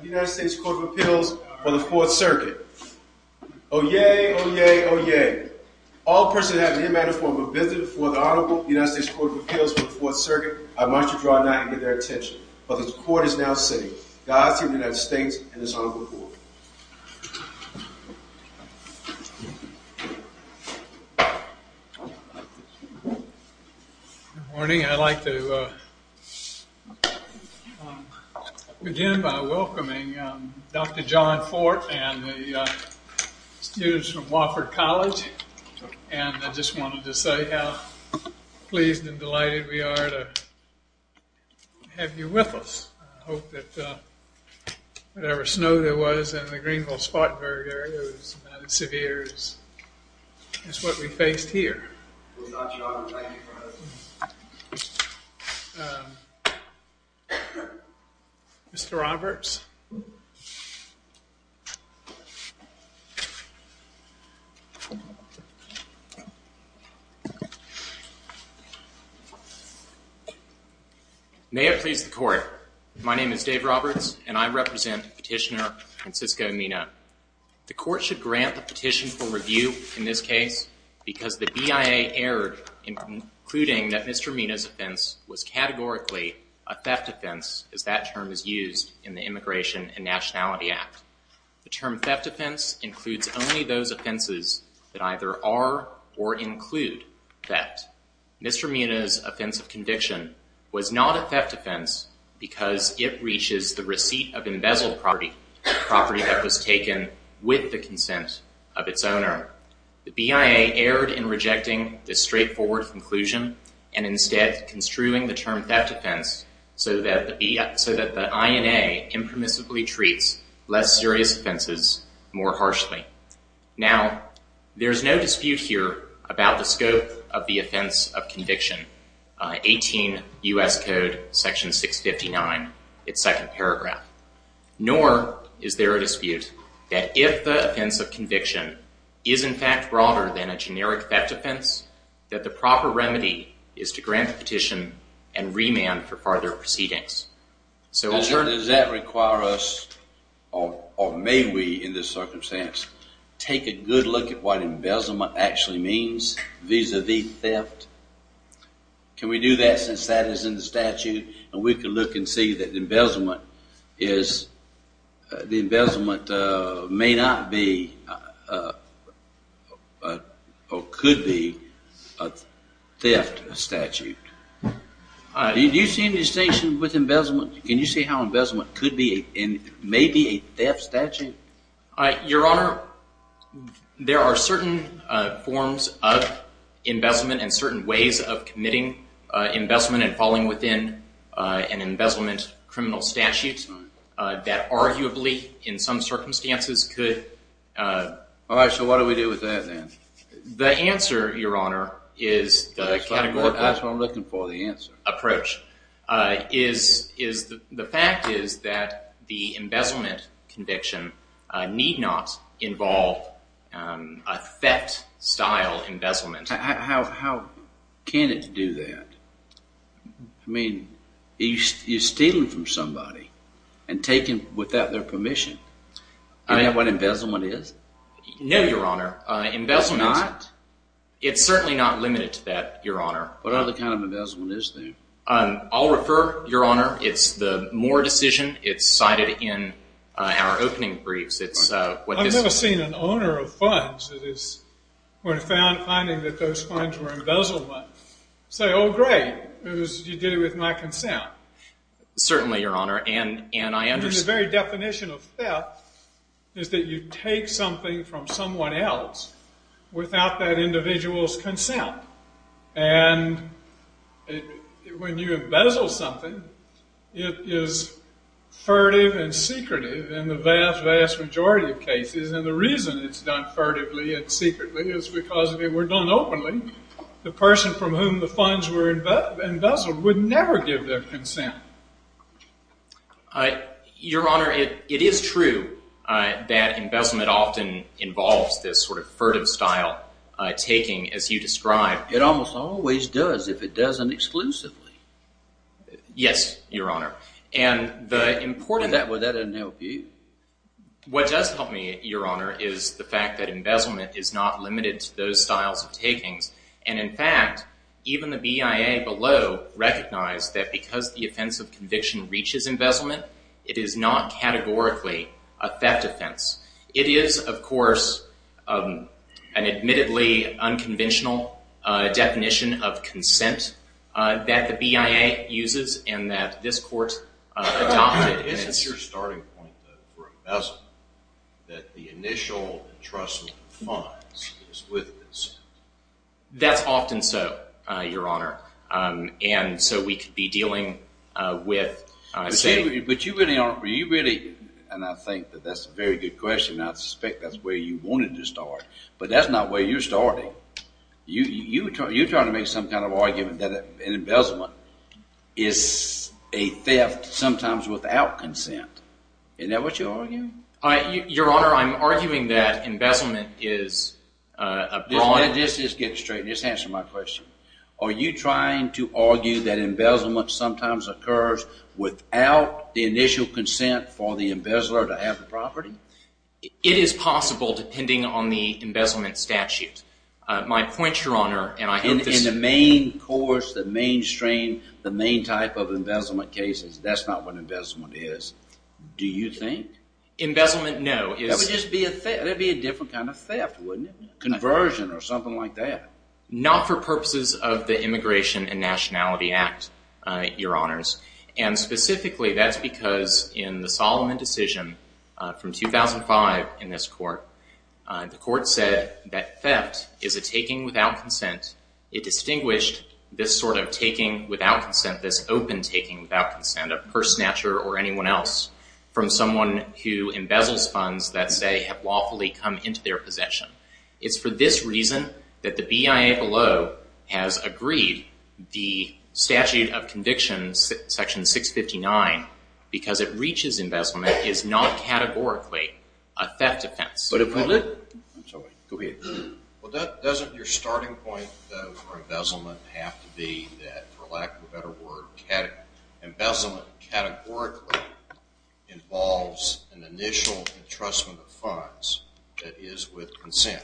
United States Court of Appeals for the Fourth Circuit. Oyez, oyez, oyez. All persons who have the immanent form of business before the Honorable United States Court of Appeals for the Fourth Circuit are admonished to draw nigh and give their attention. For the Court is now sitting. Godspeed to the United States and this Honorable Court. Good morning. I'd like to begin by welcoming Dr. John Fort and the students from Wofford College. And I just wanted to say how pleased and delighted we are to have you with us. I hope that whatever snow there was in the Greenville-Spartanburg area was not as severe as what we faced here. Mr. Roberts. May it please the Court. My name is Dave Roberts and I represent Petitioner Francisco Mena. The Court should grant the petition for review in this case because the BIA erred in concluding that Mr. Mena's offense was categorically a theft offense as that term is used in the Immigration and Nationality Act. The term theft offense includes only those offenses that either are or include theft. Mr. Mena's offense of conviction was not a theft offense because it reaches the receipt of embezzled property, property that was taken with the consent of its owner. The BIA erred in rejecting this straightforward conclusion and instead construing the term theft offense so that the INA impermissibly treats less serious offenses more harshly. Now, there's no dispute here about the scope of the offense of conviction, 18 U.S. Code Section 659, its second paragraph. Nor is there a dispute that if the offense of conviction is in fact broader than a generic theft offense, that the proper remedy is to grant the petition and remand for further proceedings. Does that require us or may we in this circumstance take a good look at what embezzlement actually means vis-à-vis theft? Can we do that since that is in the statute and we can look and see that embezzlement is, the embezzlement may not be or could be a theft statute? Do you see any distinction with embezzlement? Can you see how embezzlement could be and may be a theft statute? Your Honor, there are certain forms of embezzlement and certain ways of committing embezzlement and falling within an embezzlement criminal statute that arguably in some circumstances could… All right, so what do we do with that then? The answer, Your Honor, is… That's what I'm looking for, the answer. The fact is that the embezzlement conviction need not involve a theft-style embezzlement. How can it do that? I mean, you're stealing from somebody and taking without their permission. Do you know what embezzlement is? No, Your Honor. It's not? It's certainly not limited to that, Your Honor. What other kind of embezzlement is there? I'll refer, Your Honor, it's the Moore decision. It's cited in our opening briefs. I've never seen an owner of funds that is, when finding that those funds were embezzlement, say, oh, great, you did it with my consent. Certainly, Your Honor, and I understand… The very definition of theft is that you take something from someone else without that individual's consent. And when you embezzle something, it is furtive and secretive in the vast, vast majority of cases. And the reason it's done furtively and secretly is because if it were done openly, the person from whom the funds were embezzled would never give their consent. Your Honor, it is true that embezzlement often involves this sort of furtive style taking as you describe. It almost always does if it does it exclusively. Yes, Your Honor. And the important… Well, that doesn't help you. What does help me, Your Honor, is the fact that embezzlement is not limited to those styles of takings. And, in fact, even the BIA below recognized that because the offense of conviction reaches embezzlement, it is not categorically a theft offense. It is, of course, an admittedly unconventional definition of consent that the BIA uses and that this Court adopted. But isn't your starting point, though, for embezzlement that the initial entrustment of funds is with consent? That's often so, Your Honor. And so we could be dealing with saying… But you really aren't… And I think that that's a very good question, and I suspect that's where you wanted to start. But that's not where you're starting. You're trying to make some kind of argument that an embezzlement is a theft sometimes without consent. Isn't that what you're arguing? Your Honor, I'm arguing that embezzlement is a… Just get straight. Just answer my question. Are you trying to argue that embezzlement sometimes occurs without the initial consent for the embezzler to have the property? It is possible depending on the embezzlement statute. My point, Your Honor, and I hope this… In the main course, the main strain, the main type of embezzlement cases, that's not what embezzlement is. Do you think? Embezzlement, no. That would just be a different kind of theft, wouldn't it? Conversion or something like that. Not for purposes of the Immigration and Nationality Act, Your Honors. And specifically, that's because in the Solomon decision from 2005 in this court, the court said that theft is a taking without consent. It distinguished this sort of taking without consent, this open taking without consent, a purse snatcher or anyone else, from someone who embezzles funds that, say, have lawfully come into their possession. It's for this reason that the BIA below has agreed the statute of convictions, section 659, because it reaches embezzlement, is not categorically a theft offense. But if we look… Go ahead. Well, doesn't your starting point, though, for embezzlement have to be that, for lack of a better word, embezzlement categorically involves an initial entrustment of funds that is with consent?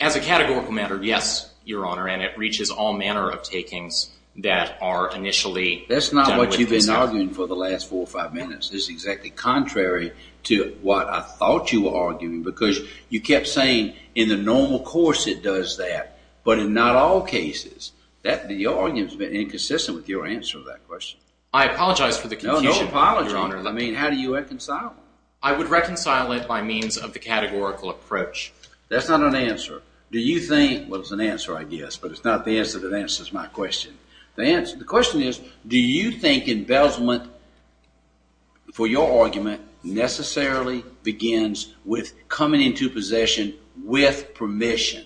As a categorical matter, yes, Your Honor, and it reaches all manner of takings that are initially done with consent. That's not what you've been arguing for the last four or five minutes. It's exactly contrary to what I thought you were arguing, because you kept saying in the normal course it does that, but in not all cases. The argument has been inconsistent with your answer to that question. I apologize for the confusion, Your Honor. No apology. I mean, how do you reconcile it? I would reconcile it by means of the categorical approach. That's not an answer. Do you think – well, it's an answer, I guess, but it's not the answer that answers my question. The question is, do you think embezzlement, for your argument, necessarily begins with coming into possession with permission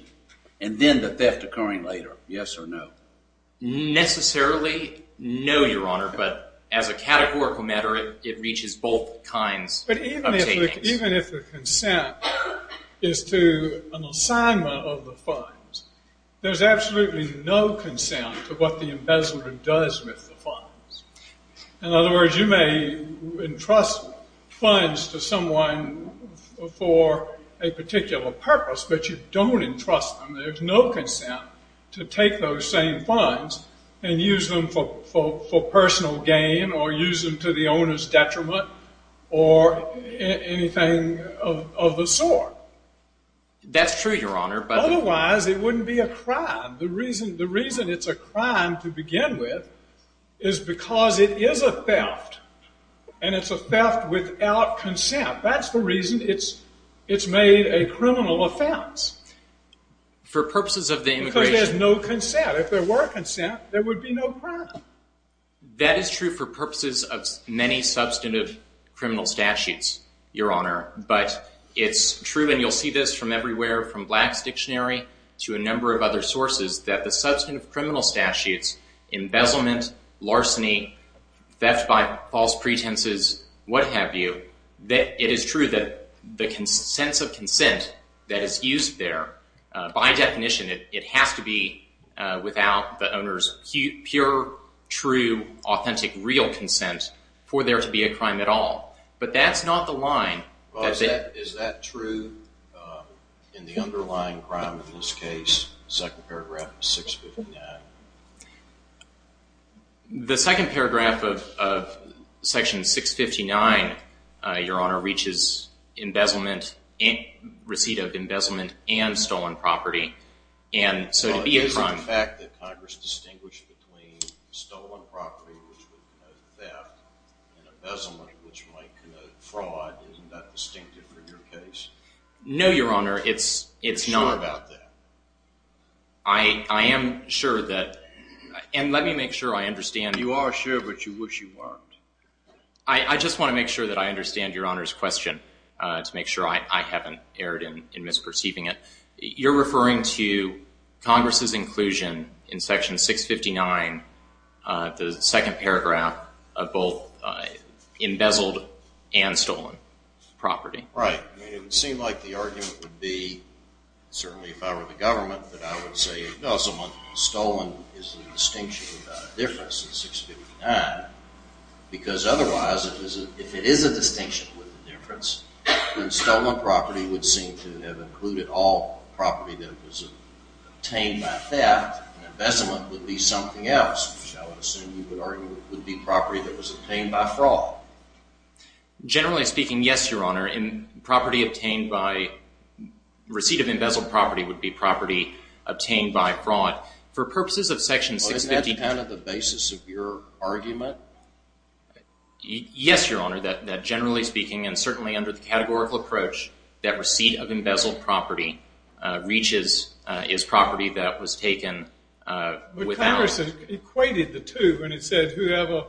and then the theft occurring later? Yes or no? Necessarily no, Your Honor, but as a categorical matter, it reaches both kinds of takings. But even if the consent is to an assignment of the funds, there's absolutely no consent to what the embezzler does with the funds. In other words, you may entrust funds to someone for a particular purpose, but you don't entrust them. There's no consent to take those same funds and use them for personal gain or use them to the owner's detriment or anything of the sort. That's true, Your Honor. Otherwise, it wouldn't be a crime. The reason it's a crime to begin with is because it is a theft, and it's a theft without consent. That's the reason it's made a criminal offense. Because there's no consent. If there were consent, there would be no crime. That is true for purposes of many substantive criminal statutes, Your Honor. But it's true, and you'll see this from everywhere, from Black's Dictionary to a number of other sources, that the substantive criminal statutes, embezzlement, larceny, theft by false pretenses, what have you, that it is true that the sense of consent that is used there, by definition, it has to be without the owner's pure, true, authentic, real consent for there to be a crime at all. But that's not the line. Is that true in the underlying crime in this case, second paragraph of 659? The second paragraph of section 659, Your Honor, reaches embezzlement, receipt of embezzlement and stolen property, and so it would be a crime. But isn't the fact that Congress distinguished between stolen property, which would denote theft, and embezzlement, which might connote fraud, isn't that distinctive for your case? No, Your Honor, it's not. Are you sure about that? I am sure that, and let me make sure I understand. You are sure, but you wish you weren't. I just want to make sure that I understand Your Honor's question to make sure I haven't erred in misperceiving it. You're referring to Congress's inclusion in section 659, the second paragraph, of both embezzled and stolen property. Right. It would seem like the argument would be, certainly if I were the government, that I would say embezzlement and stolen is a distinction without a difference in 659, because otherwise, if it is a distinction with a difference, then stolen property would seem to have included all property that was obtained by theft, and embezzlement would be something else, which I would assume you would argue would be property that was obtained by fraud. Generally speaking, yes, Your Honor. Property obtained by receipt of embezzled property would be property obtained by fraud. For purposes of section 659- Isn't that kind of the basis of your argument? Yes, Your Honor, that generally speaking, and certainly under the categorical approach, that receipt of embezzled property reaches property that was taken without- Ralph Anderson equated the two when he said, whoever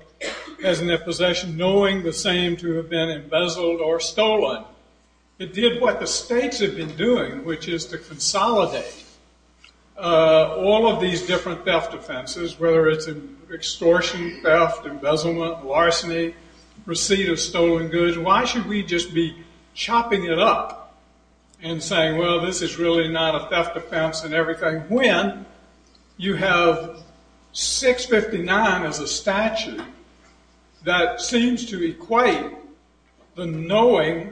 has enough possession knowing the same to have been embezzled or stolen. It did what the states had been doing, which is to consolidate all of these different theft offenses, whether it's extortion, theft, embezzlement, larceny, receipt of stolen goods. Why should we just be chopping it up and saying, well, this is really not a theft offense and everything, when you have 659 as a statute that seems to equate the knowing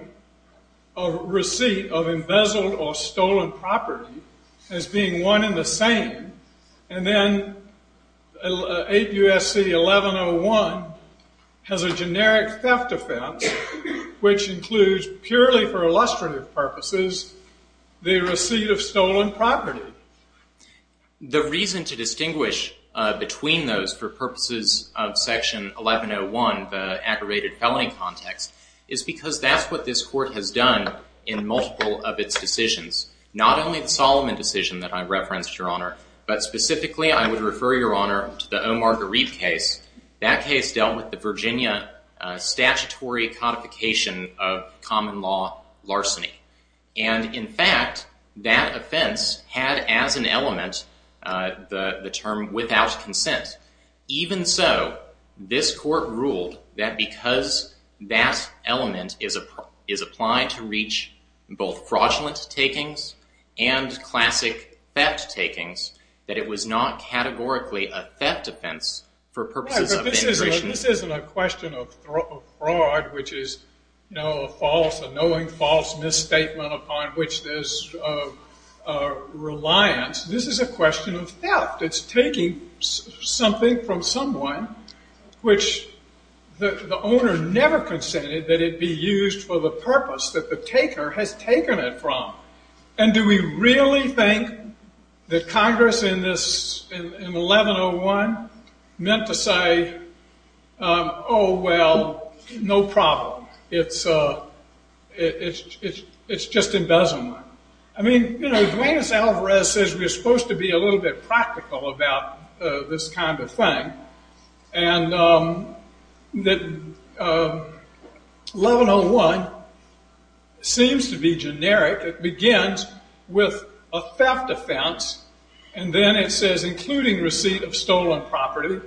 of receipt of embezzled or stolen property as being one and the same, and then APUSC 1101 has a generic theft offense which includes purely for illustrative purposes the receipt of stolen property? The reason to distinguish between those for purposes of section 1101, the aggravated felony context, is because that's what this Court has done in multiple of its decisions. Not only the Solomon decision that I referenced, Your Honor, but specifically I would refer, Your Honor, to the Omar Gharib case. That case dealt with the Virginia statutory codification of common law larceny. And in fact, that offense had as an element the term without consent. Even so, this Court ruled that because that element is applied to reach both fraudulent takings and classic theft takings, that it was not categorically a theft offense for purposes of immigration. This isn't a question of fraud, which is, you know, a false, a knowing false misstatement upon which there's reliance. This is a question of theft. It's taking something from someone which the owner never consented that it be used for the purpose that the taker has taken it from. And do we really think that Congress in 1101 meant to say, oh, well, no problem. It's just embezzlement. I mean, you know, Duane S. Alvarez says we're supposed to be a little bit practical about this kind of thing. And that 1101 seems to be generic. It begins with a theft offense. And then it says including receipt of stolen property,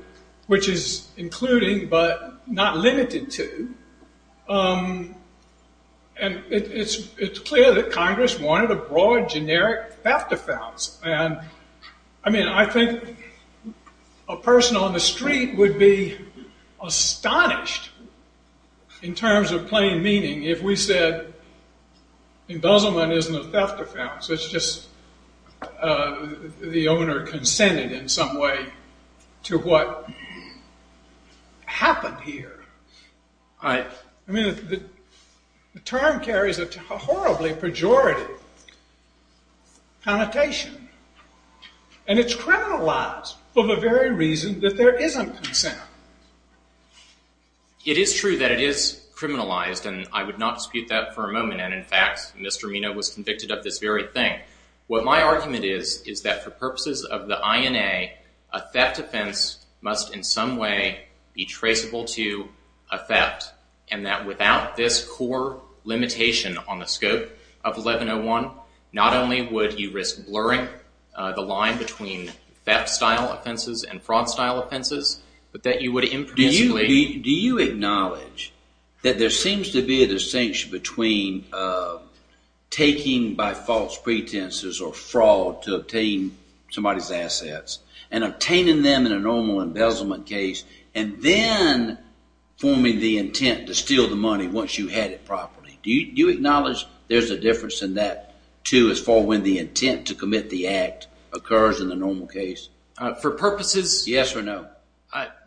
which is including but not limited to. And it's clear that Congress wanted a broad, generic theft offense. And, I mean, I think a person on the street would be astonished in terms of plain meaning if we said embezzlement isn't a theft offense. It's just the owner consented in some way to what happened here. I mean, the term carries a horribly pejorative connotation. And it's criminalized for the very reason that there isn't consent. It is true that it is criminalized, and I would not dispute that for a moment. And, in fact, Mr. Amino was convicted of this very thing. What my argument is is that for purposes of the INA, a theft offense must in some way be traceable to a theft. And that without this core limitation on the scope of 1101, not only would you risk blurring the line between theft-style offenses and fraud-style offenses, but that you would impermissibly— to obtain somebody's assets, and obtaining them in a normal embezzlement case, and then forming the intent to steal the money once you had it properly. Do you acknowledge there's a difference in that, too, as far as when the intent to commit the act occurs in the normal case? For purposes— Yes or no?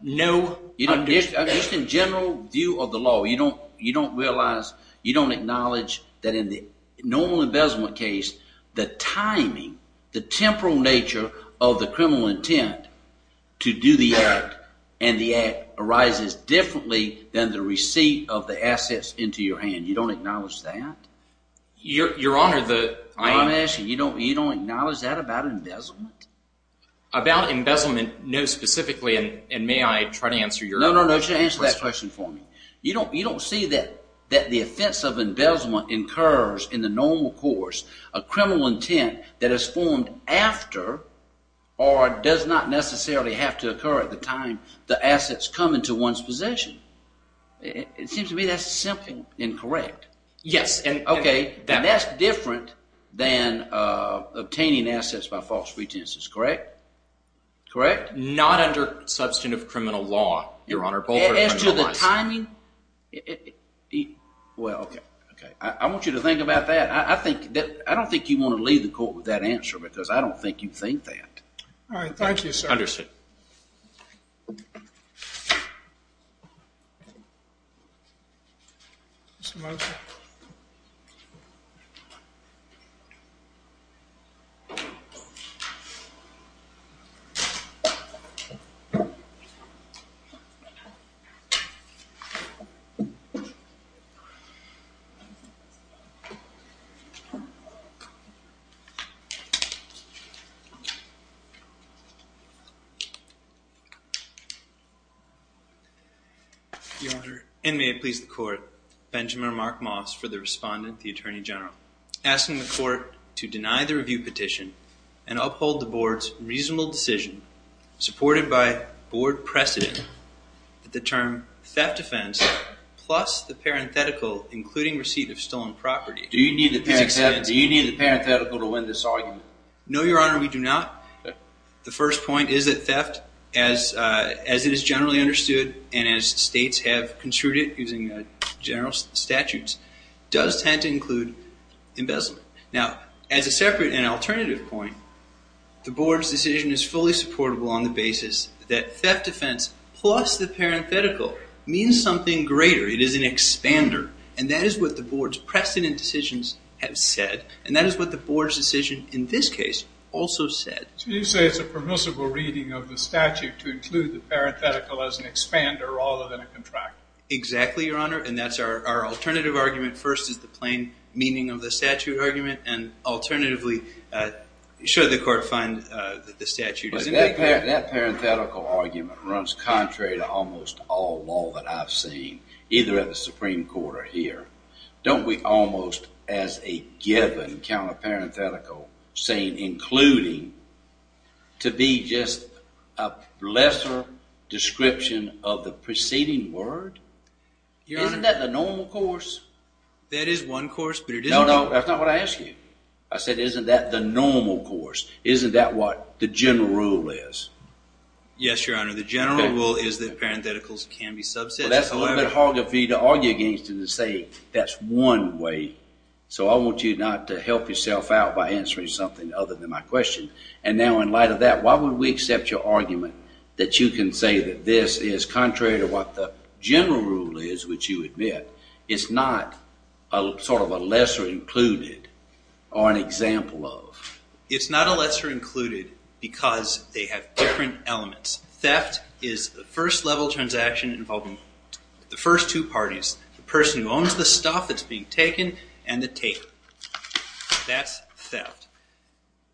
No. Just in general view of the law, you don't realize—you don't acknowledge that in the normal embezzlement case, the timing, the temporal nature of the criminal intent to do the act, and the act arises differently than the receipt of the assets into your hand. You don't acknowledge that? Your Honor, the— I'm asking, you don't acknowledge that about embezzlement? About embezzlement, no specifically, and may I try to answer your question? No, no, no. Just answer that question for me. You don't see that the offense of embezzlement incurs in the normal course a criminal intent that is formed after or does not necessarily have to occur at the time the assets come into one's possession. It seems to me that's simply incorrect. Yes, and— Correct? Not under substantive criminal law, Your Honor. As to the timing, well, okay. I want you to think about that. I don't think you want to leave the court with that answer because I don't think you think that. All right. Thank you, sir. Understood. Thank you, Your Honor. Do you need the parenthetical to win this argument? No, Your Honor, we do not. The first point is that theft, as it is generally understood and as states have construed it using general statutes, does tend to include embezzlement. Now, as a separate and alternative point, the Board's decision is fully supportable on the basis that theft offense plus the parenthetical means something greater. It is an expander, and that is what the Board's precedent decisions have said, and that is what the Board's decision in this case also said. So you say it's a permissible reading of the statute to include the parenthetical as an expander rather than a contractor. Exactly, Your Honor, and that's our alternative argument. First is the plain meaning of the statute argument, and alternatively, should the court find that the statute is… But that parenthetical argument runs contrary to almost all law that I've seen, either at the Supreme Court or here. Don't we almost, as a given, count a parenthetical saying including to be just a lesser description of the preceding word? Isn't that the normal course? That is one course, but it is… No, no, that's not what I asked you. I said, isn't that the normal course? Isn't that what the general rule is? Yes, Your Honor, the general rule is that parentheticals can be subsets, however… That's one way, so I want you not to help yourself out by answering something other than my question. And now in light of that, why would we accept your argument that you can say that this is contrary to what the general rule is, which you admit is not sort of a lesser included or an example of? It's not a lesser included because they have different elements. Theft is the first level transaction involving the first two parties. The person who owns the stuff that's being taken and the taker. That's theft.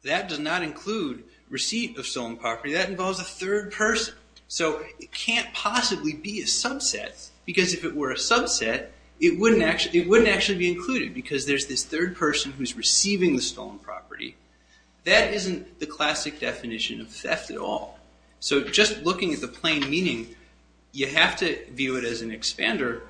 That does not include receipt of stolen property. That involves a third person, so it can't possibly be a subset because if it were a subset, it wouldn't actually be included because there's this third person who's receiving the stolen property. That isn't the classic definition of theft at all. So just looking at the plain meaning, you have to view it as an expander.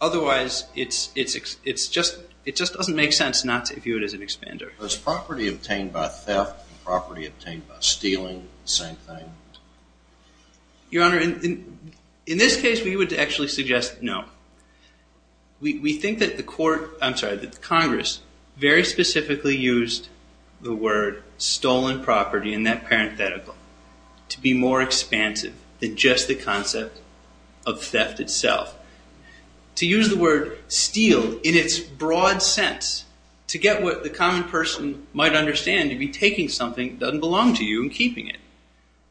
Otherwise, it just doesn't make sense not to view it as an expander. Is property obtained by theft and property obtained by stealing the same thing? Your Honor, in this case, we would actually suggest no. We think that Congress very specifically used the word stolen property in that parenthetical to be more expansive than just the concept of theft itself. To use the word steal in its broad sense to get what the common person might understand to be taking something that doesn't belong to you and keeping it.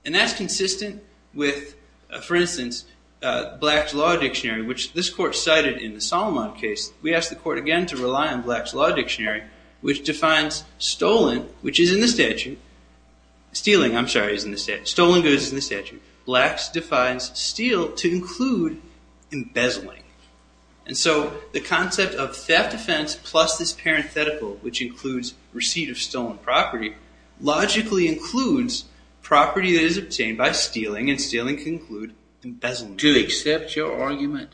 That's consistent with, for instance, Black's Law Dictionary, which this court cited in the Solomon case. We asked the court again to rely on Black's Law Dictionary, which defines stolen, which is in the statute. Stealing, I'm sorry, is in the statute. Stolen goods is in the statute. Black's defines steal to include embezzling. And so the concept of theft offense plus this parenthetical, which includes receipt of stolen property, logically includes property that is obtained by stealing. And stealing can include embezzlement. To accept your argument,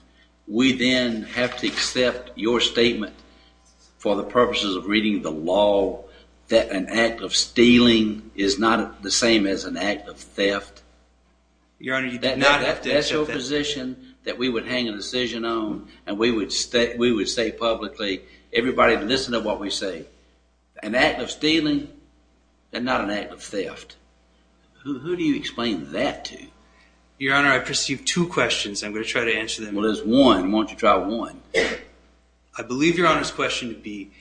we then have to accept your statement for the purposes of reading the law that an act of stealing is not the same as an act of theft. Your Honor, you do not have to accept that. That's a position that we would hang a decision on and we would say publicly, everybody listen to what we say. An act of stealing is not an act of theft. Who do you explain that to? Your Honor, I perceive two questions. I'm going to try to answer them. Well, there's one. Why don't you try one? I believe Your Honor's question would be,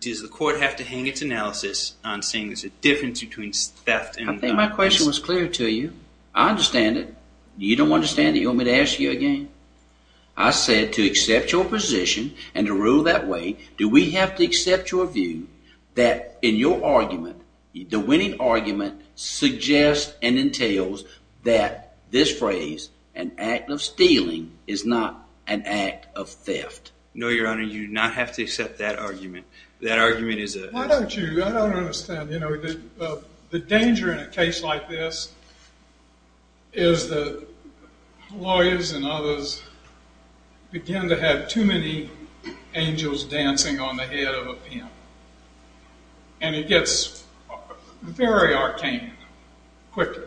does the court have to hang its analysis on saying there's a difference between theft and not? I think my question was clear to you. I understand it. You don't understand it? You want me to ask you again? I said to accept your position and to rule that way, do we have to accept your view that in your argument, the winning argument, suggests and entails that this phrase, an act of stealing, is not an act of theft? No, Your Honor, you do not have to accept that argument. That argument is a- Why don't you? I don't understand. The danger in a case like this is that lawyers and others begin to have too many angels dancing on the head of a pin. And it gets very arcane quickly.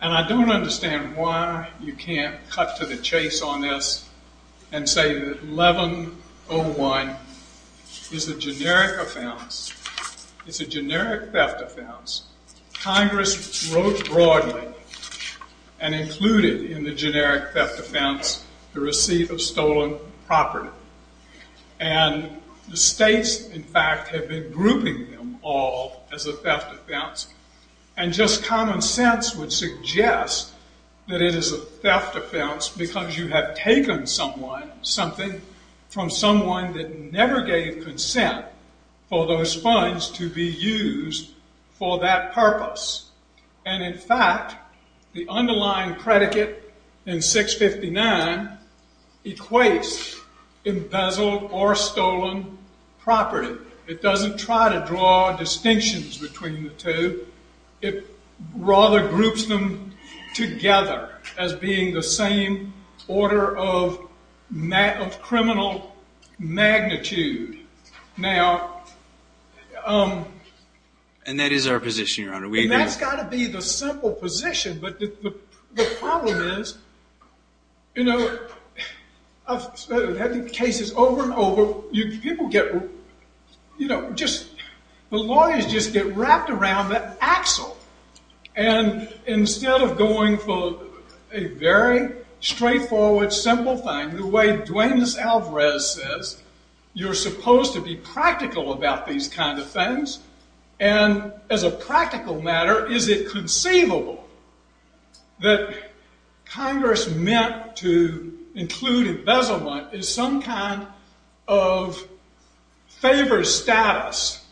And I don't understand why you can't cut to the chase on this and say that 1101 is the generic offense. It's a generic theft offense. Congress wrote broadly and included in the generic theft offense the receipt of stolen property. And the states, in fact, have been grouping them all as a theft offense. And just common sense would suggest that it is a theft offense because you have taken something from someone that never gave consent for those funds to be used for that purpose. And, in fact, the underlying predicate in 659 equates embezzled or stolen property. It doesn't try to draw distinctions between the two. It rather groups them together as being the same order of criminal magnitude. Now- And that is our position, Your Honor. And that's got to be the simple position. But the problem is, you know, I've had cases over and over. People get, you know, just the lawyers just get wrapped around that axle. And instead of going for a very straightforward, simple thing, the way Dwayne Alvarez says, you're supposed to be practical about these kind of things. And as a practical matter, is it conceivable that Congress meant to include embezzlement as some kind of favored status,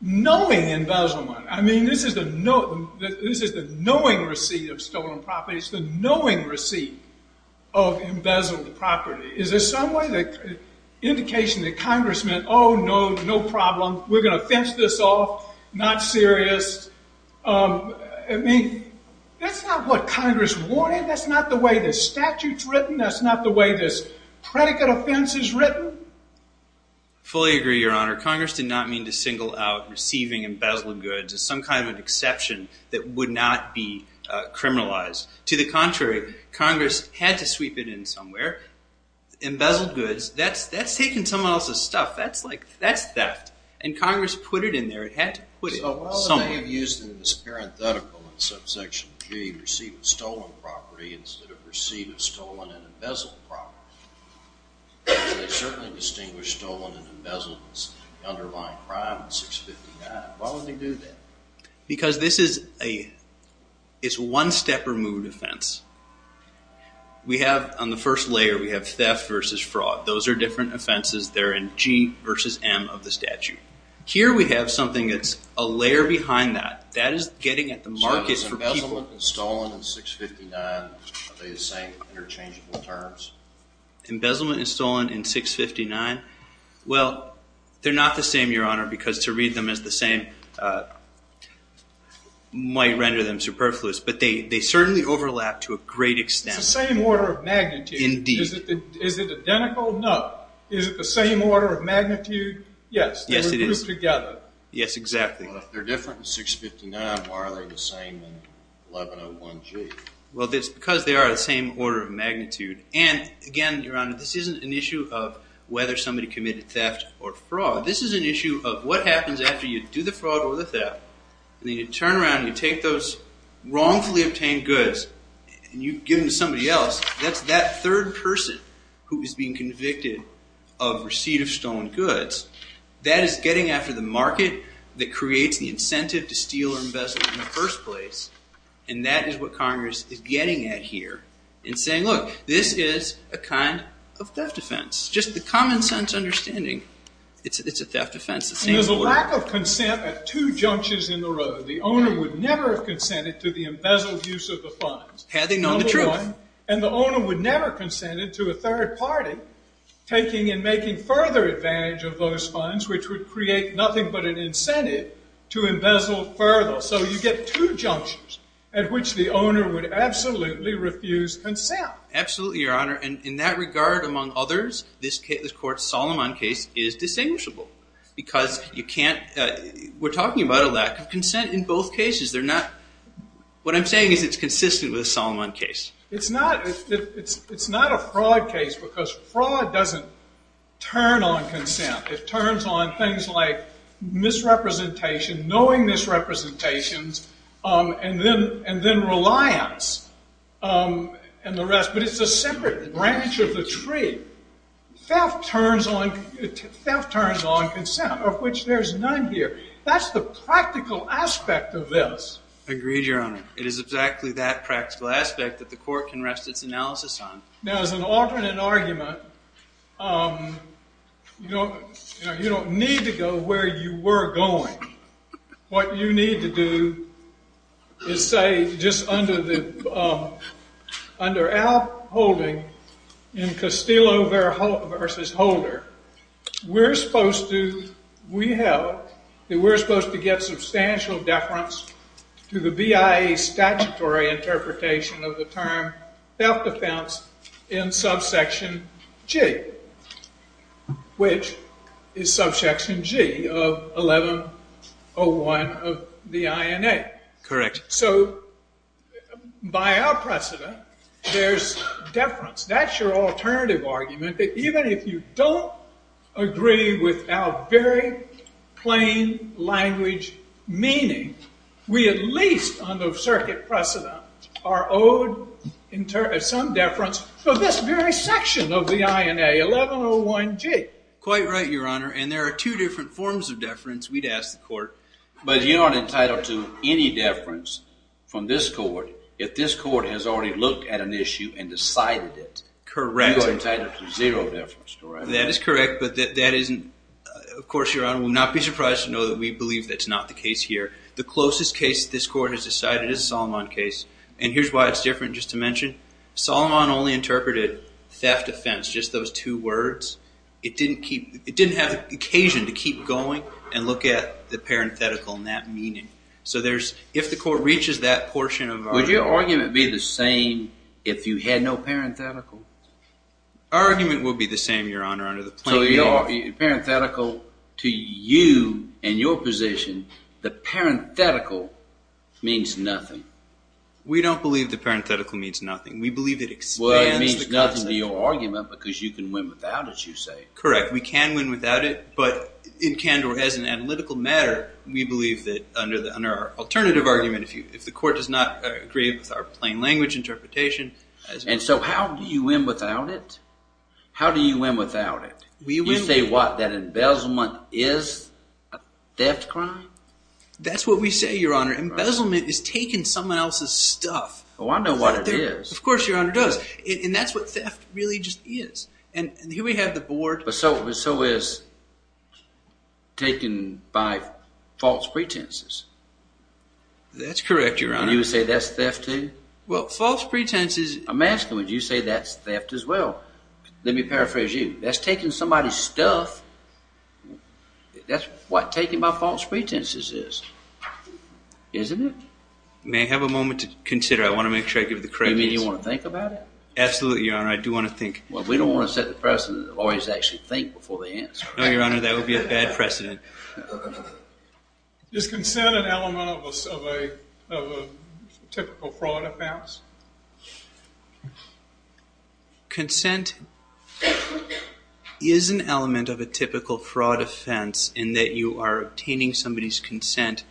knowing embezzlement? I mean, this is the knowing receipt of stolen property. It's the knowing receipt of embezzled property. Is there some way that indication that Congress meant, oh, no, no problem, we're going to fence this off, not serious. I mean, that's not what Congress wanted. That's not the way the statute's written. That's not the way this predicate offense is written. Fully agree, Your Honor. Congress did not mean to single out receiving embezzled goods as some kind of exception that would not be criminalized. To the contrary. Congress had to sweep it in somewhere. Embezzled goods, that's taking someone else's stuff. That's theft. And Congress put it in there. It had to put it somewhere. So why would they have used it as parenthetical in subsection G, receive a stolen property, instead of receive a stolen and embezzled property? They certainly distinguished stolen and embezzled as the underlying crime in 659. Why would they do that? Because this is a one-stepper mood offense. We have on the first layer, we have theft versus fraud. Those are different offenses. They're in G versus M of the statute. Here we have something that's a layer behind that. That is getting at the markets for people. So embezzlement and stolen in 659, are they the same interchangeable terms? Embezzlement and stolen in 659? Well, they're not the same, Your Honor, because to read them as the same might render them superfluous. But they certainly overlap to a great extent. It's the same order of magnitude. Indeed. Is it identical? No. Is it the same order of magnitude? Yes. Yes, it is. They're grouped together. Yes, exactly. Well, if they're different in 659, why are they the same in 1101G? Well, it's because they are the same order of magnitude. And, again, Your Honor, this isn't an issue of whether somebody committed theft or fraud. This is an issue of what happens after you do the fraud or the theft. You turn around and you take those wrongfully obtained goods and you give them to somebody else. That's that third person who is being convicted of receipt of stolen goods. That is getting after the market that creates the incentive to steal or embezzle in the first place. And that is what Congress is getting at here. It's saying, look, this is a kind of theft offense. Just the common sense understanding, it's a theft offense. It's the same order. There's a lack of consent at two junctures in the road. The owner would never have consented to the embezzled use of the funds. Had they known the truth. Number one. And the owner would never have consented to a third party taking and making further advantage of those funds, which would create nothing but an incentive to embezzle further. So you get two junctures at which the owner would absolutely refuse consent. Absolutely, Your Honor. And in that regard, among others, this court's Solomon case is distinguishable. Because you can't, we're talking about a lack of consent in both cases. They're not, what I'm saying is it's consistent with the Solomon case. It's not. It's not a fraud case because fraud doesn't turn on consent. It turns on things like misrepresentation, knowing misrepresentations, and then reliance, and the rest. But it's a separate branch of the tree. Theft turns on consent, of which there's none here. That's the practical aspect of this. Agreed, Your Honor. It is exactly that practical aspect that the court can rest its analysis on. Now, as an alternate argument, you don't need to go where you were going. What you need to do is say just under our holding in Castillo v. Holder, we're supposed to get substantial deference to the BIA statutory interpretation of the term theft defense in subsection G, which is subsection G of 1101 of the INA. Correct. So by our precedent, there's deference. That's your alternative argument, that even if you don't agree with our very plain language meaning, we at least under circuit precedent are owed some deference for this very section of the INA, 1101 G. Quite right, Your Honor. And there are two different forms of deference, we'd ask the court. But you aren't entitled to any deference from this court if this court has already looked at an issue and decided it. Correct. You are entitled to zero deference, correct? That is correct. But that isn't, of course, Your Honor, will not be surprised to know that we believe that's not the case here. The closest case this court has decided is the Solomon case. And here's why it's different, just to mention. Solomon only interpreted theft offense, just those two words. It didn't have occasion to keep going and look at the parenthetical and that meaning. So if the court reaches that portion of our argument. Would your argument be the same if you had no parenthetical? Our argument would be the same, Your Honor, under the plain language. So the parenthetical to you and your position, the parenthetical means nothing. We don't believe the parenthetical means nothing. We believe it expands the concept. Because you can win without it, you say. Correct. We can win without it. But in Candor, as an analytical matter, we believe that under our alternative argument, if the court does not agree with our plain language interpretation. And so how do you win without it? How do you win without it? You say what? That embezzlement is a theft crime? That's what we say, Your Honor. Embezzlement is taking someone else's stuff. Oh, I know what it is. Of course, Your Honor does. And that's what theft really just is. And here we have the board. But so is taking by false pretenses. That's correct, Your Honor. You would say that's theft too? Well, false pretenses. I'm asking would you say that's theft as well? Let me paraphrase you. That's taking somebody's stuff. That's what taking by false pretenses is. Isn't it? May I have a moment to consider? I want to make sure I give the correct answer. Oh, you mean you want to think about it? Absolutely, Your Honor. I do want to think. Well, we don't want to set the precedent of always actually think before they answer. No, Your Honor. That would be a bad precedent. Is consent an element of a typical fraud offense? Consent is an element of a typical fraud offense in that you are obtaining somebody's consent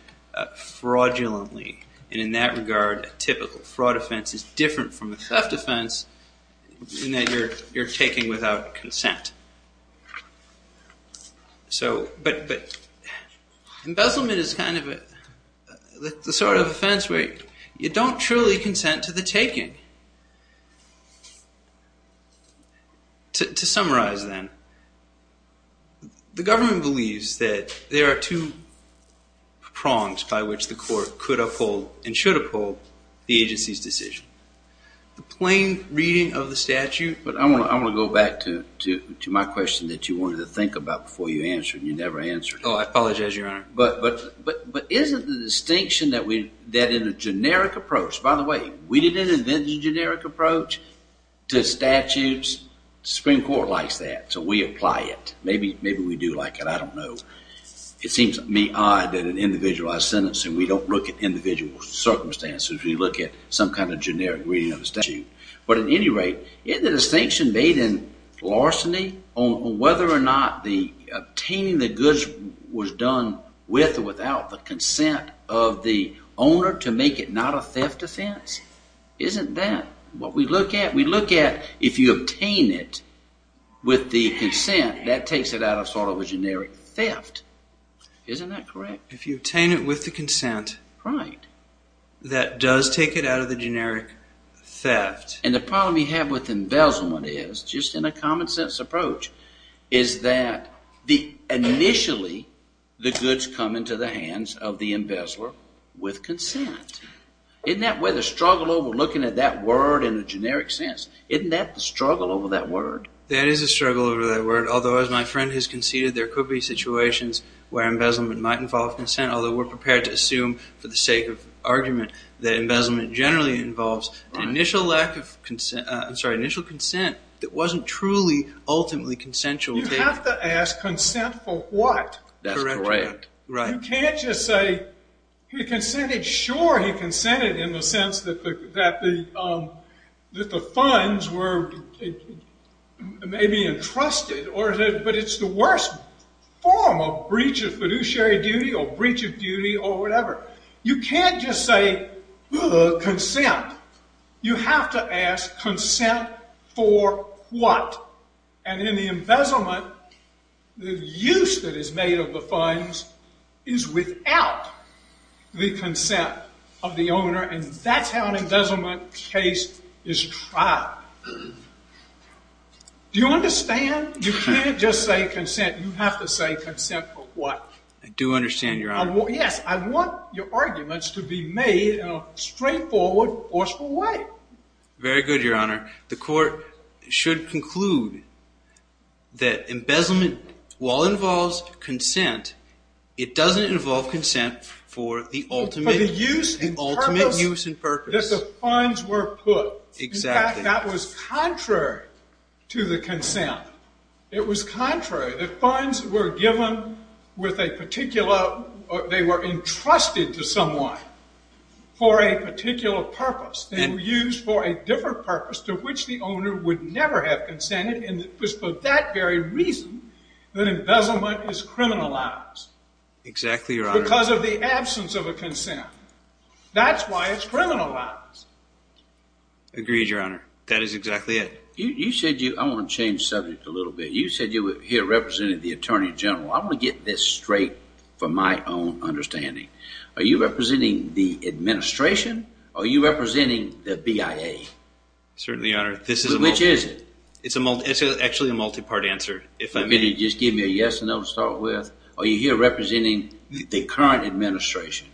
fraudulently. And in that regard, a typical fraud offense is different from a theft offense in that you're taking without consent. But embezzlement is the sort of offense where you don't truly consent to the taking. To summarize then, the government believes that there are two prongs by which the court could uphold and should uphold the agency's decision. The plain reading of the statute. But I want to go back to my question that you wanted to think about before you answered and you never answered. Oh, I apologize, Your Honor. But isn't the distinction that in a generic approach, by the way, we didn't invent the generic approach to statutes. The Supreme Court likes that, so we apply it. Maybe we do like it. I don't know. It seems to me odd that in individualized sentencing we don't look at individual circumstances. We look at some kind of generic reading of the statute. But at any rate, isn't the distinction made in larceny on whether or not the obtaining the goods was done with or without the consent of the owner to make it not a theft offense? Isn't that what we look at? We look at if you obtain it with the consent, that takes it out of sort of a generic theft. Isn't that correct? If you obtain it with the consent... Right. ...that does take it out of the generic theft. And the problem you have with embezzlement is, just in a common-sense approach, is that initially the goods come into the hands of the embezzler with consent. Isn't that where the struggle over looking at that word in a generic sense? Isn't that the struggle over that word? That is a struggle over that word. Although, as my friend has conceded, there could be situations where embezzlement might involve consent, although we're prepared to assume, for the sake of argument, that embezzlement generally involves an initial lack of consent. I'm sorry, initial consent that wasn't truly ultimately consensual. You have to ask, consent for what? That's correct. You can't just say, Sure, he consented in the sense that the funds were maybe entrusted, but it's the worst form of breach of fiduciary duty or breach of duty or whatever. You can't just say, consent. You have to ask, consent for what? And in the embezzlement, the use that is made of the funds is without the consent of the owner, and that's how an embezzlement case is tried. Do you understand? You can't just say, consent. You have to say, consent for what? I do understand, Your Honor. Yes, I want your arguments to be made in a straightforward, forceful way. Very good, Your Honor. The Court should conclude that embezzlement, while it involves consent, it doesn't involve consent for the ultimate use and purpose. For the use and purpose that the funds were put. Exactly. In fact, that was contrary to the consent. It was contrary. The funds were given with a particular or they were entrusted to someone for a particular purpose. They were used for a different purpose to which the owner would never have consented, and it was for that very reason that embezzlement is criminalized. Exactly, Your Honor. Because of the absence of a consent. That's why it's criminalized. Agreed, Your Honor. That is exactly it. You said you, I want to change subjects a little bit. You said you here represented the Attorney General. I want to get this straight from my own understanding. Are you representing the administration? Are you representing the BIA? Certainly, Your Honor. Which is it? It's actually a multi-part answer. If I may. Just give me a yes or no to start with. Are you here representing the current administration?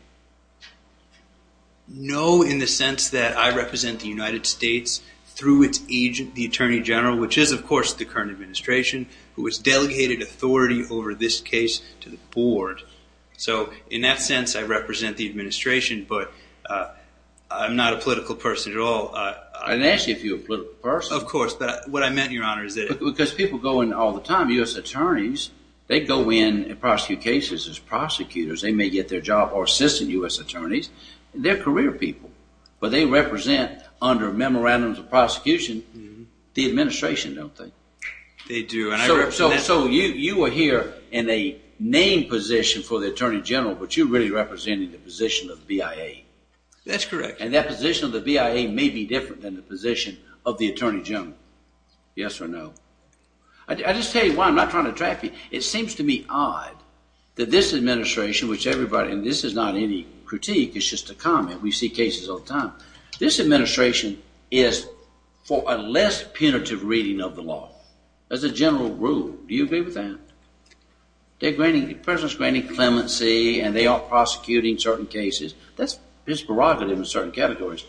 No, in the sense that I represent the United States through its agent, the Attorney General, which is, of course, the current administration, who has delegated authority over this case to the board. So, in that sense, I represent the administration, but I'm not a political person at all. I didn't ask you if you were a political person. Of course, but what I meant, Your Honor, is that. Because people go in all the time, U.S. attorneys, they go in and prosecute cases as prosecutors. They may get their job or assistant U.S. attorneys. They're career people, but they represent, under memorandums of prosecution, the administration, don't they? They do. So, you are here in a named position for the Attorney General, but you're really representing the position of BIA. That's correct. And that position of the BIA may be different than the position of the Attorney General. Yes or no? I'll just tell you why. I'm not trying to attract you. It seems to me odd that this administration, which everybody, and this is not any critique, it's just a comment. We see cases all the time. This administration is for a less punitive reading of the law. That's a general rule. Do you agree with that? The President is granting clemency, and they are prosecuting certain cases. That's prerogative in certain categories.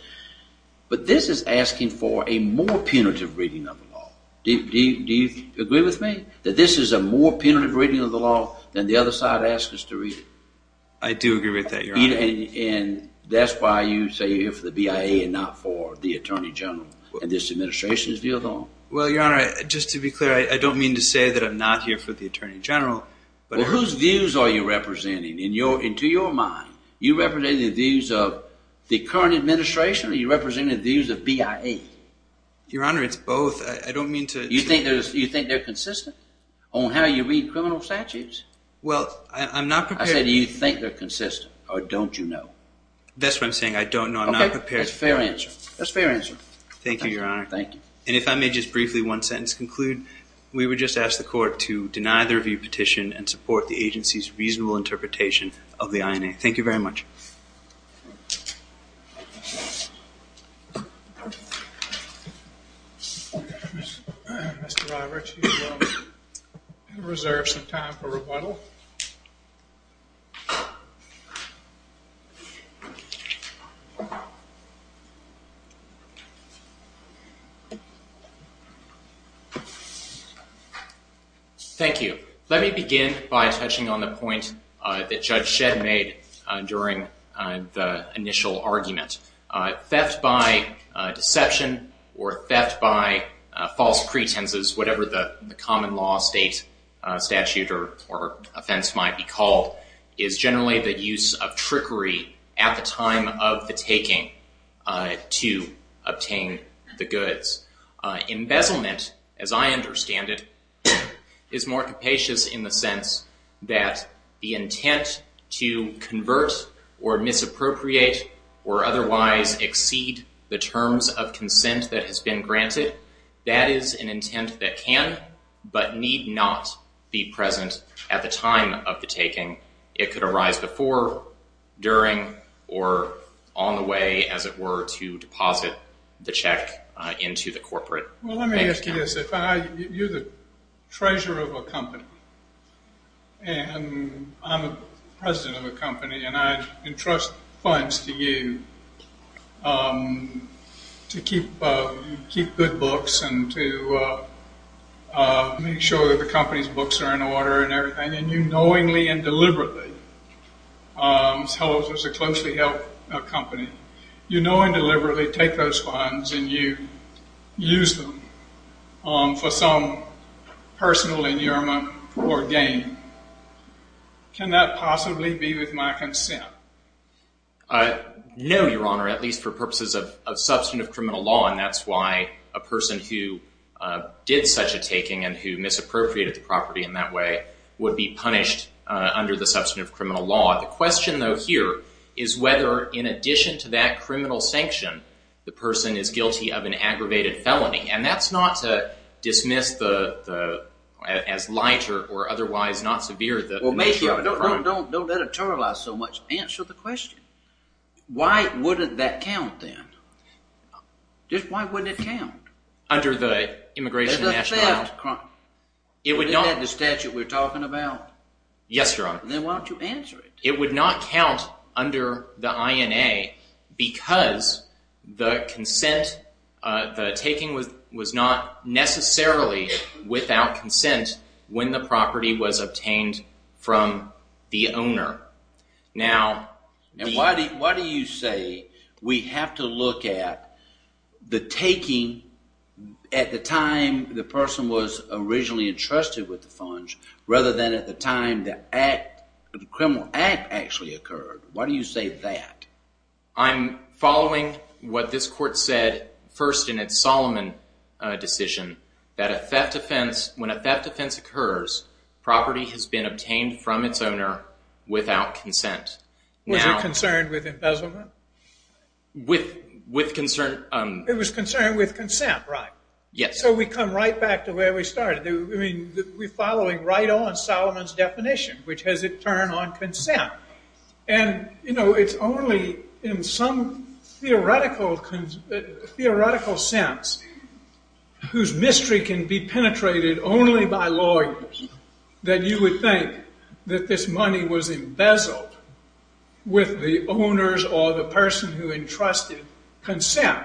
But this is asking for a more punitive reading of the law. Do you agree with me that this is a more punitive reading of the law than the other side asks us to read it? I do agree with that, Your Honor. And that's why you say you're here for the BIA and not for the Attorney General, and this administration's view of the law? Well, Your Honor, just to be clear, I don't mean to say that I'm not here for the Attorney General. Well, whose views are you representing? And to your mind, you represent the views of the current administration or you represent the views of BIA? Your Honor, it's both. I don't mean to— You think they're consistent on how you read criminal statutes? Well, I'm not prepared— I said do you think they're consistent or don't you know? That's what I'm saying. I don't know. I'm not prepared. Okay, that's a fair answer. That's a fair answer. Thank you, Your Honor. Thank you. And if I may just briefly one sentence conclude, we would just ask the Court to deny the review petition and support the agency's reasonable interpretation of the INA. Thank you very much. Mr. Roberts, you have reserved some time for rebuttal. Thank you. Let me begin by touching on the point that Judge Shedd made during the initial argument. Theft by deception or theft by false pretenses, whatever the common law state statute or offense might be called, is generally the use of trickery at the time of the taking to obtain the goods. Embezzlement, as I understand it, is more capacious in the sense that the intent to convert or misappropriate or otherwise exceed the terms of consent that has been granted, that is an intent that can but need not be present at the time of the taking. It could arise before, during, or on the way, as it were, to deposit the check into the corporate bank account. Well, let me ask you this. You're the treasurer of a company, and I'm the president of a company, and I entrust funds to you to keep good books and to make sure that the company's books are in order and everything. And you knowingly and deliberately, as a closely held company, you knowingly and deliberately take those funds and you use them for some personal inurement or gain, can that possibly be with my consent? No, Your Honor, at least for purposes of substantive criminal law, and that's why a person who did such a taking and who misappropriated the property in that way would be punished under the substantive criminal law. The question, though, here is whether, in addition to that criminal sanction, the person is guilty of an aggravated felony. And that's not to dismiss as light or otherwise not severe the nature of the crime. Don't editorialize so much. Answer the question. Why wouldn't that count, then? Just why wouldn't it count? Under the Immigration and National Law. It doesn't affect crime. Isn't that the statute we're talking about? Yes, Your Honor. Then why don't you answer it? It would not count under the INA because the consent, the taking was not necessarily without consent when the property was obtained from the owner. Now, why do you say we have to look at the taking at the time the person was originally entrusted with the funds rather than at the time the criminal act actually occurred? Why do you say that? I'm following what this Court said first in its Solomon decision that when a theft offense occurs, property has been obtained from its owner without consent. Was it concerned with embezzlement? With concern. It was concerned with consent, right? Yes. So we come right back to where we started. I mean, we're following right on Solomon's definition, which has it turned on consent. And, you know, it's only in some theoretical sense whose mystery can be penetrated only by lawyers that you would think that this money was embezzled with the owner's or the person who entrusted consent.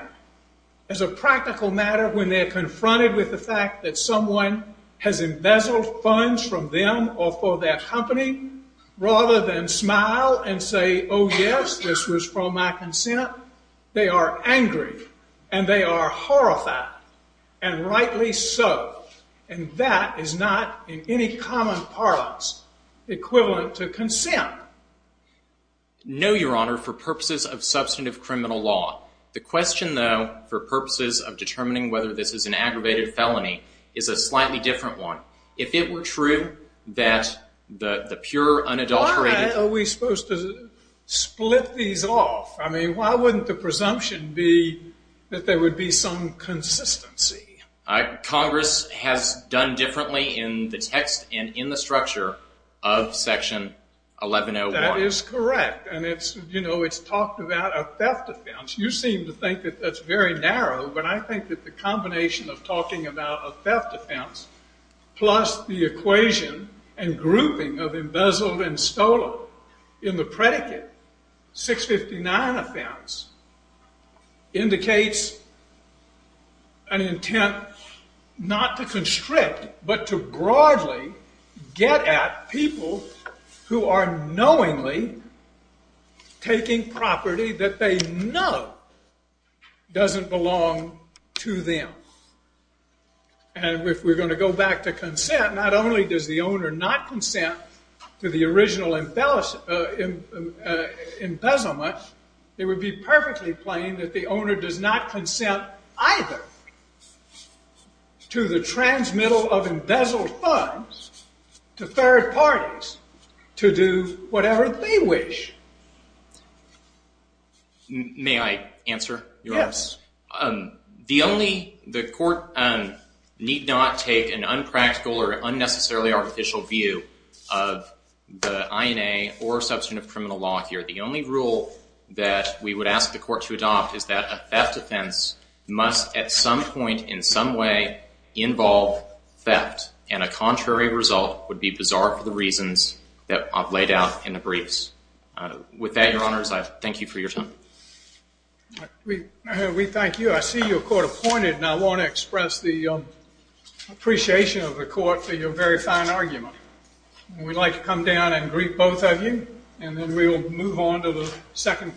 As a practical matter, when they're confronted with the fact that someone has embezzled funds from them or for their company, rather than smile and say, oh, yes, this was from my consent, they are angry and they are horrified, and rightly so. And that is not in any common parlance equivalent to consent. No, Your Honor, for purposes of substantive criminal law. The question, though, for purposes of determining whether this is an aggravated felony is a slightly different one. If it were true that the pure unadulterated- Why are we supposed to split these off? I mean, why wouldn't the presumption be that there would be some consistency? Congress has done differently in the text and in the structure of Section 1101. That is correct. And, you know, it's talked about a theft offense. You seem to think that that's very narrow, but I think that the combination of talking about a theft offense plus the equation and grouping of embezzled and stolen in the predicate, 659 offense, indicates an intent not to constrict but to broadly get at people who are knowingly taking property that they know doesn't belong to them. And if we're going to go back to consent, not only does the owner not consent to the original embezzlement, it would be perfectly plain that the owner does not consent either to the transmittal of embezzled funds to third parties to do whatever they wish. May I answer your question? Yes. The only- the court need not take an unpractical or unnecessarily artificial view of the INA or substantive criminal law here. The only rule that we would ask the court to adopt is that a theft offense must at some point in some way involve theft, and a contrary result would be bizarre for the reasons that I've laid out in the briefs. With that, Your Honors, I thank you for your time. We thank you. I see you're court-appointed, and I want to express the appreciation of the court for your very fine argument. We'd like to come down and greet both of you, and then we'll move on to the second case.